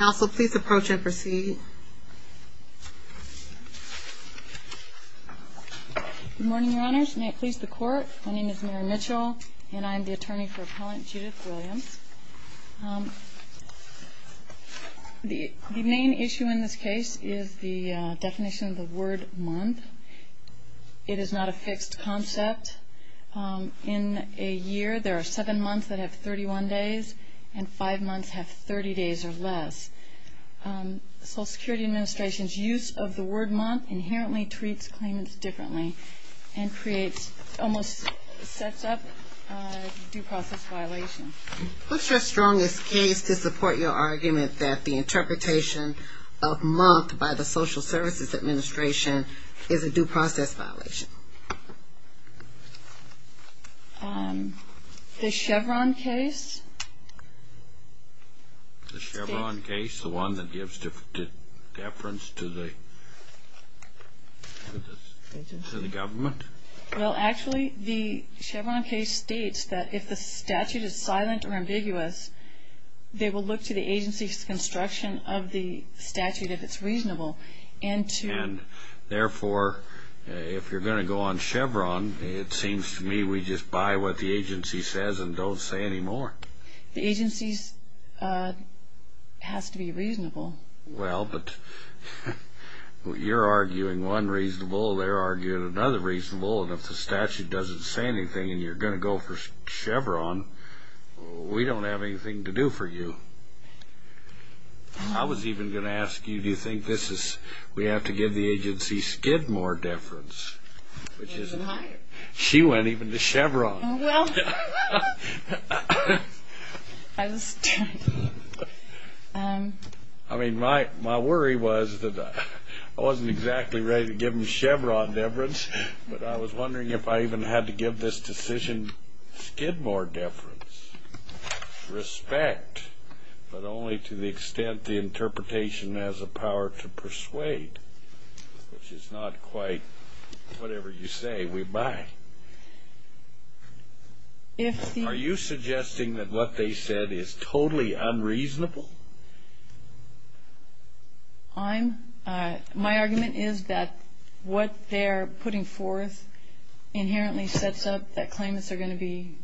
Also, please approach and proceed. Good morning, your honors. May it please the court. My name is Mary Mitchell and I'm the attorney for appellant Judith Williams. The main issue in this case is the definition of the word month. It is not a fixed concept. In a year, there are seven months that have 31 days and five months have 30 days or less. The Social Security Administration's use of the word month inherently treats claimants differently and creates, almost sets up, due process violations. What's your strongest case to support your argument that the interpretation of month by the Social Services Administration is a due process violation? The Chevron case, the one that gives deference to the government? Well, actually, the Chevron case states that if the statute is silent or ambiguous, they will look to the agency's construction of the statute if it's reasonable. And therefore, if you're going to go on Chevron, it seems to me we just buy what the agency says and don't say any more. The agency has to be reasonable. Well, but you're arguing one reasonable, they're arguing another reasonable, and if the statute doesn't say anything and you're going to go for Chevron, we don't have anything to do for you. I was even going to ask you, do you think this is, we have to give the agency skid more deference? She went even to Chevron. I mean, my worry was that I wasn't exactly ready to give them Chevron deference, but I was wondering if I even had to give this decision skid more deference. Respect, but only to the extent the interpretation has a power to If the Are you suggesting that what they said is totally unreasonable? I'm, my argument is that what they're putting forth inherently sets up that claimants are going to be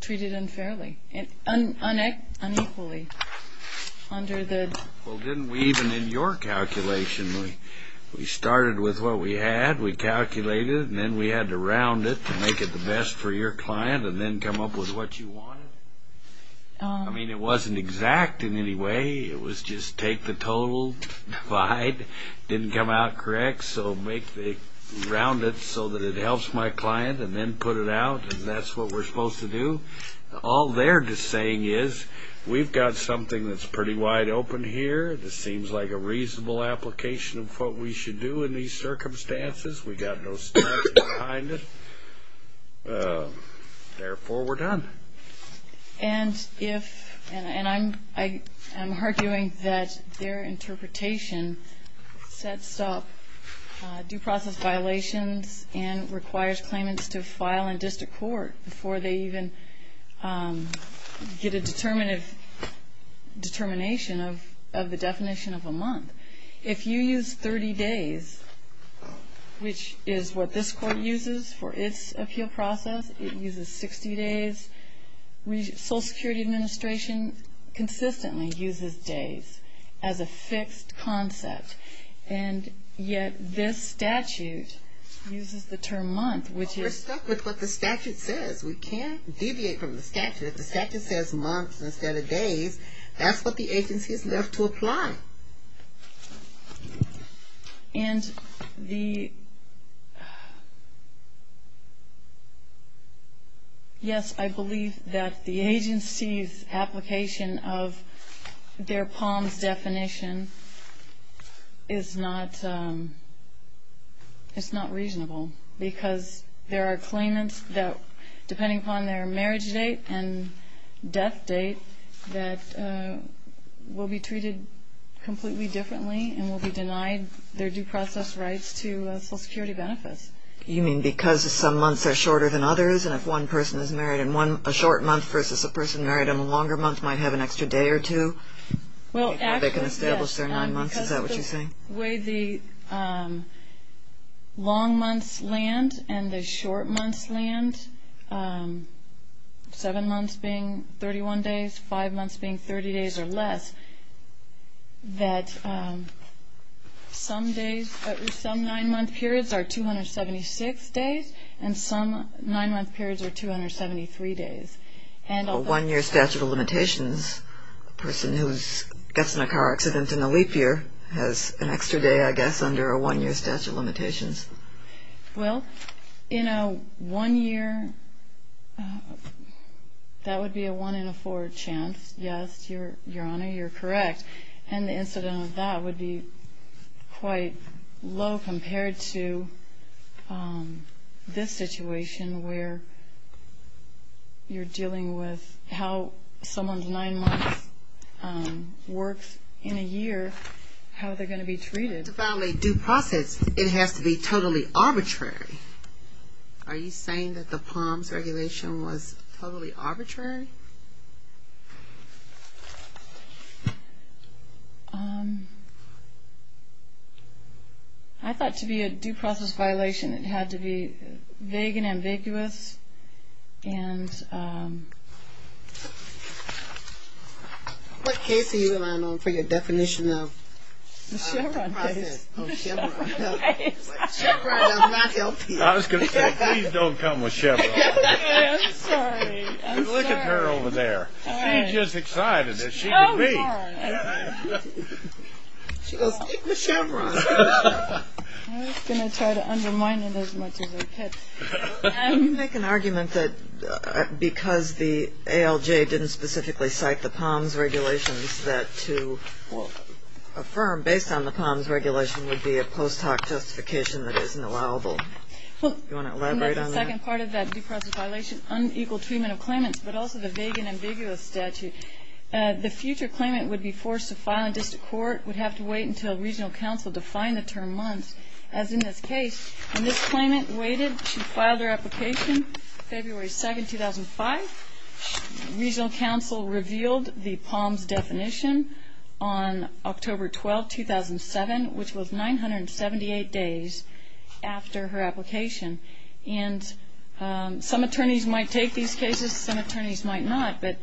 treated unfairly, unequally under the Well, didn't we even in your calculation, we started with what we had, we calculated, and then we had to round it to make it the best for your client and then come up with what you wanted? I mean, it wasn't exact in any way, it was just take the total divide, didn't come out correct, so make the, round it so that it helps my client and then put it out, and that's what we're supposed to do. All they're just saying is, we've got something that's pretty wide open here, this seems like a reasonable application of what we should do in these circumstances, we got no standards behind it, therefore we're done. And if, and I'm arguing that their interpretation sets up due process violations and requires claimants to file in district court before they even get a determinative, determination of the 60 days, which is what this court uses for its appeal process, it uses 60 days, Social Security Administration consistently uses days as a fixed concept, and yet this statute uses the term month, which is... We're stuck with what the statute says, we can't deviate from the statute, if the statute says months instead of days. And the... Yes, I believe that the agency's application of their POMS definition is not, it's not reasonable, because there are claimants that, depending upon their marriage date and death date, that will be treated completely differently and will be denied their due process rights to Social Security benefits. You mean because some months are shorter than others, and if one person is married in one, a short month versus a person married in a longer month might have an extra day or two? Well, actually, yes. They can establish their nine months, is that what you're saying? The way the long months land and the short months land, seven months being 31 days, five months being 30 days or less, that some days, some nine-month periods are 276 days, and some nine-month periods are 273 days. And a one-year statute of limitations, a person who gets in a car accident in the leap year has an extra day, I guess, under a one-year statute of limitations. Well, in a one-year, that would be a one-in-a-four chance, yes, Your Honor, you're correct, and the incident of that would be quite low compared to this situation where you're dealing with how someone's nine months works in a year, how they're going to be treated. To file a due process, it has to be totally arbitrary. Are you saying that the POMS regulation was totally arbitrary? I thought to be a due process violation, it had to be vague and ambiguous, and... What case are you relying on for your argument that because the ALJ didn't specifically cite the POMS regulations that to affirm based on the POMS regulation would be a post hoc justification that isn't allowable? Do you want to elaborate on that? Well, that's the second part of that due process violation, unequal treatment of claimants, but also the vague and ambiguous statute. The future claimant would be forced to file in district court, would have to wait until regional counsel defined the term months. As in this case, when this claimant waited to file their application, February 2nd, 2005, regional counsel revealed the POMS definition on October 12, 2007, which was 978 days after her application. Some attorneys might take these cases, some attorneys might not, but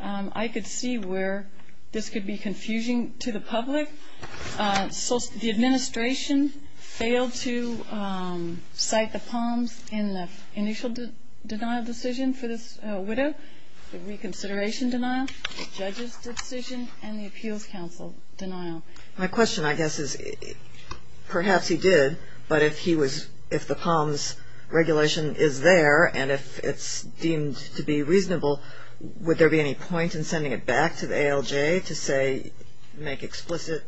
I could see where this could be confusing to the public. The administration failed to cite the POMS in the initial denial decision for this widow, the reconsideration denial, the judge's decision, and the appeals counsel denial. My question, I guess, is perhaps he did, but if he was, if the POMS regulation is there, and if it's deemed to be reasonable, would there be any point in sending it back to the ALJ to say, make explicit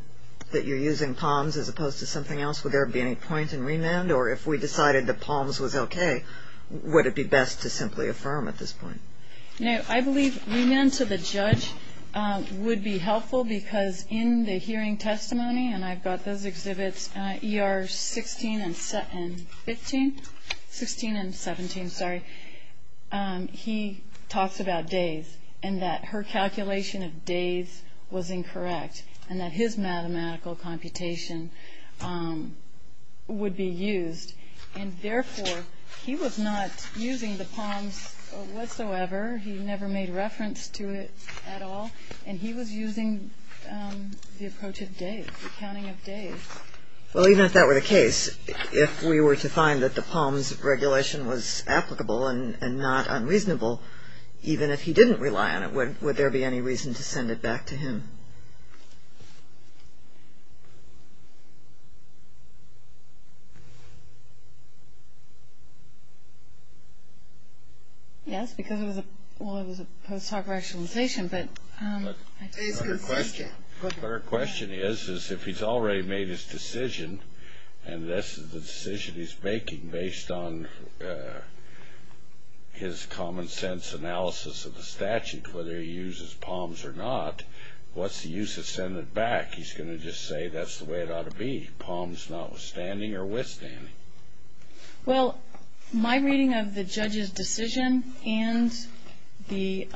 that you're using POMS as opposed to something else? Would there be any point in remand, or if we decided that POMS was okay, would it be best to simply affirm at this point? No, I think in the hearing testimony, and I've got those exhibits, ER 16 and 17, he talks about days, and that her calculation of days was incorrect, and that his mathematical computation would be used, and therefore he was not using the POMS whatsoever. He never made reference to it at all, and he was using the approach of days, the counting of days. Well, even if that were the case, if we were to find that the POMS regulation was applicable and not unreasonable, even if he didn't rely on it, would there be any reason to send it back to him? Yes, because it was a post-hoc rationalization, but the question is, is if he's already made his decision, and this is the decision he's making based on his common-sense analysis of the statute, whether he uses POMS or not, what's the use of sending it back? He's going to just say, that's the way it ought to be, POMS notwithstanding or withstanding. Well, my reading of the judge's decision and the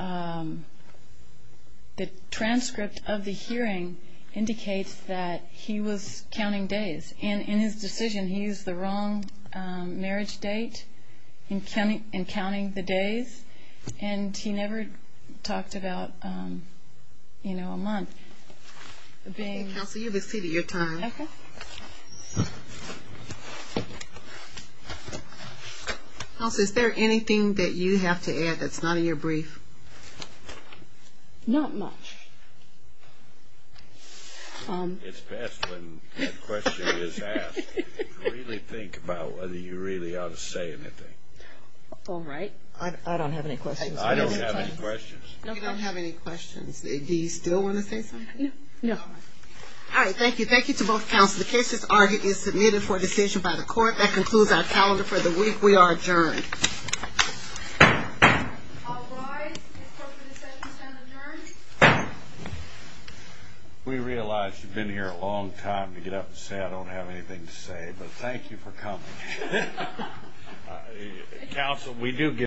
transcript of the hearing indicates that he was counting days, and in his decision, he used the wrong marriage date, and counting the days, and he never talked about a month. Counsel, you have exceeded your time. Counsel, is there anything that you have to add that's not in your brief? Not much. It's best when a question is asked, to really think about whether you really ought to say anything. All right. I don't have any questions. I don't have any questions. You don't have any questions. Do you still want to say something? No. All right. Thank you. Thank you to both counsel. The case is submitted for decision by the court. That concludes our calendar for the week. We are adjourned. We realize you've been here a long time to get up and say I don't have anything to say, but thank you for coming. Counsel, we do get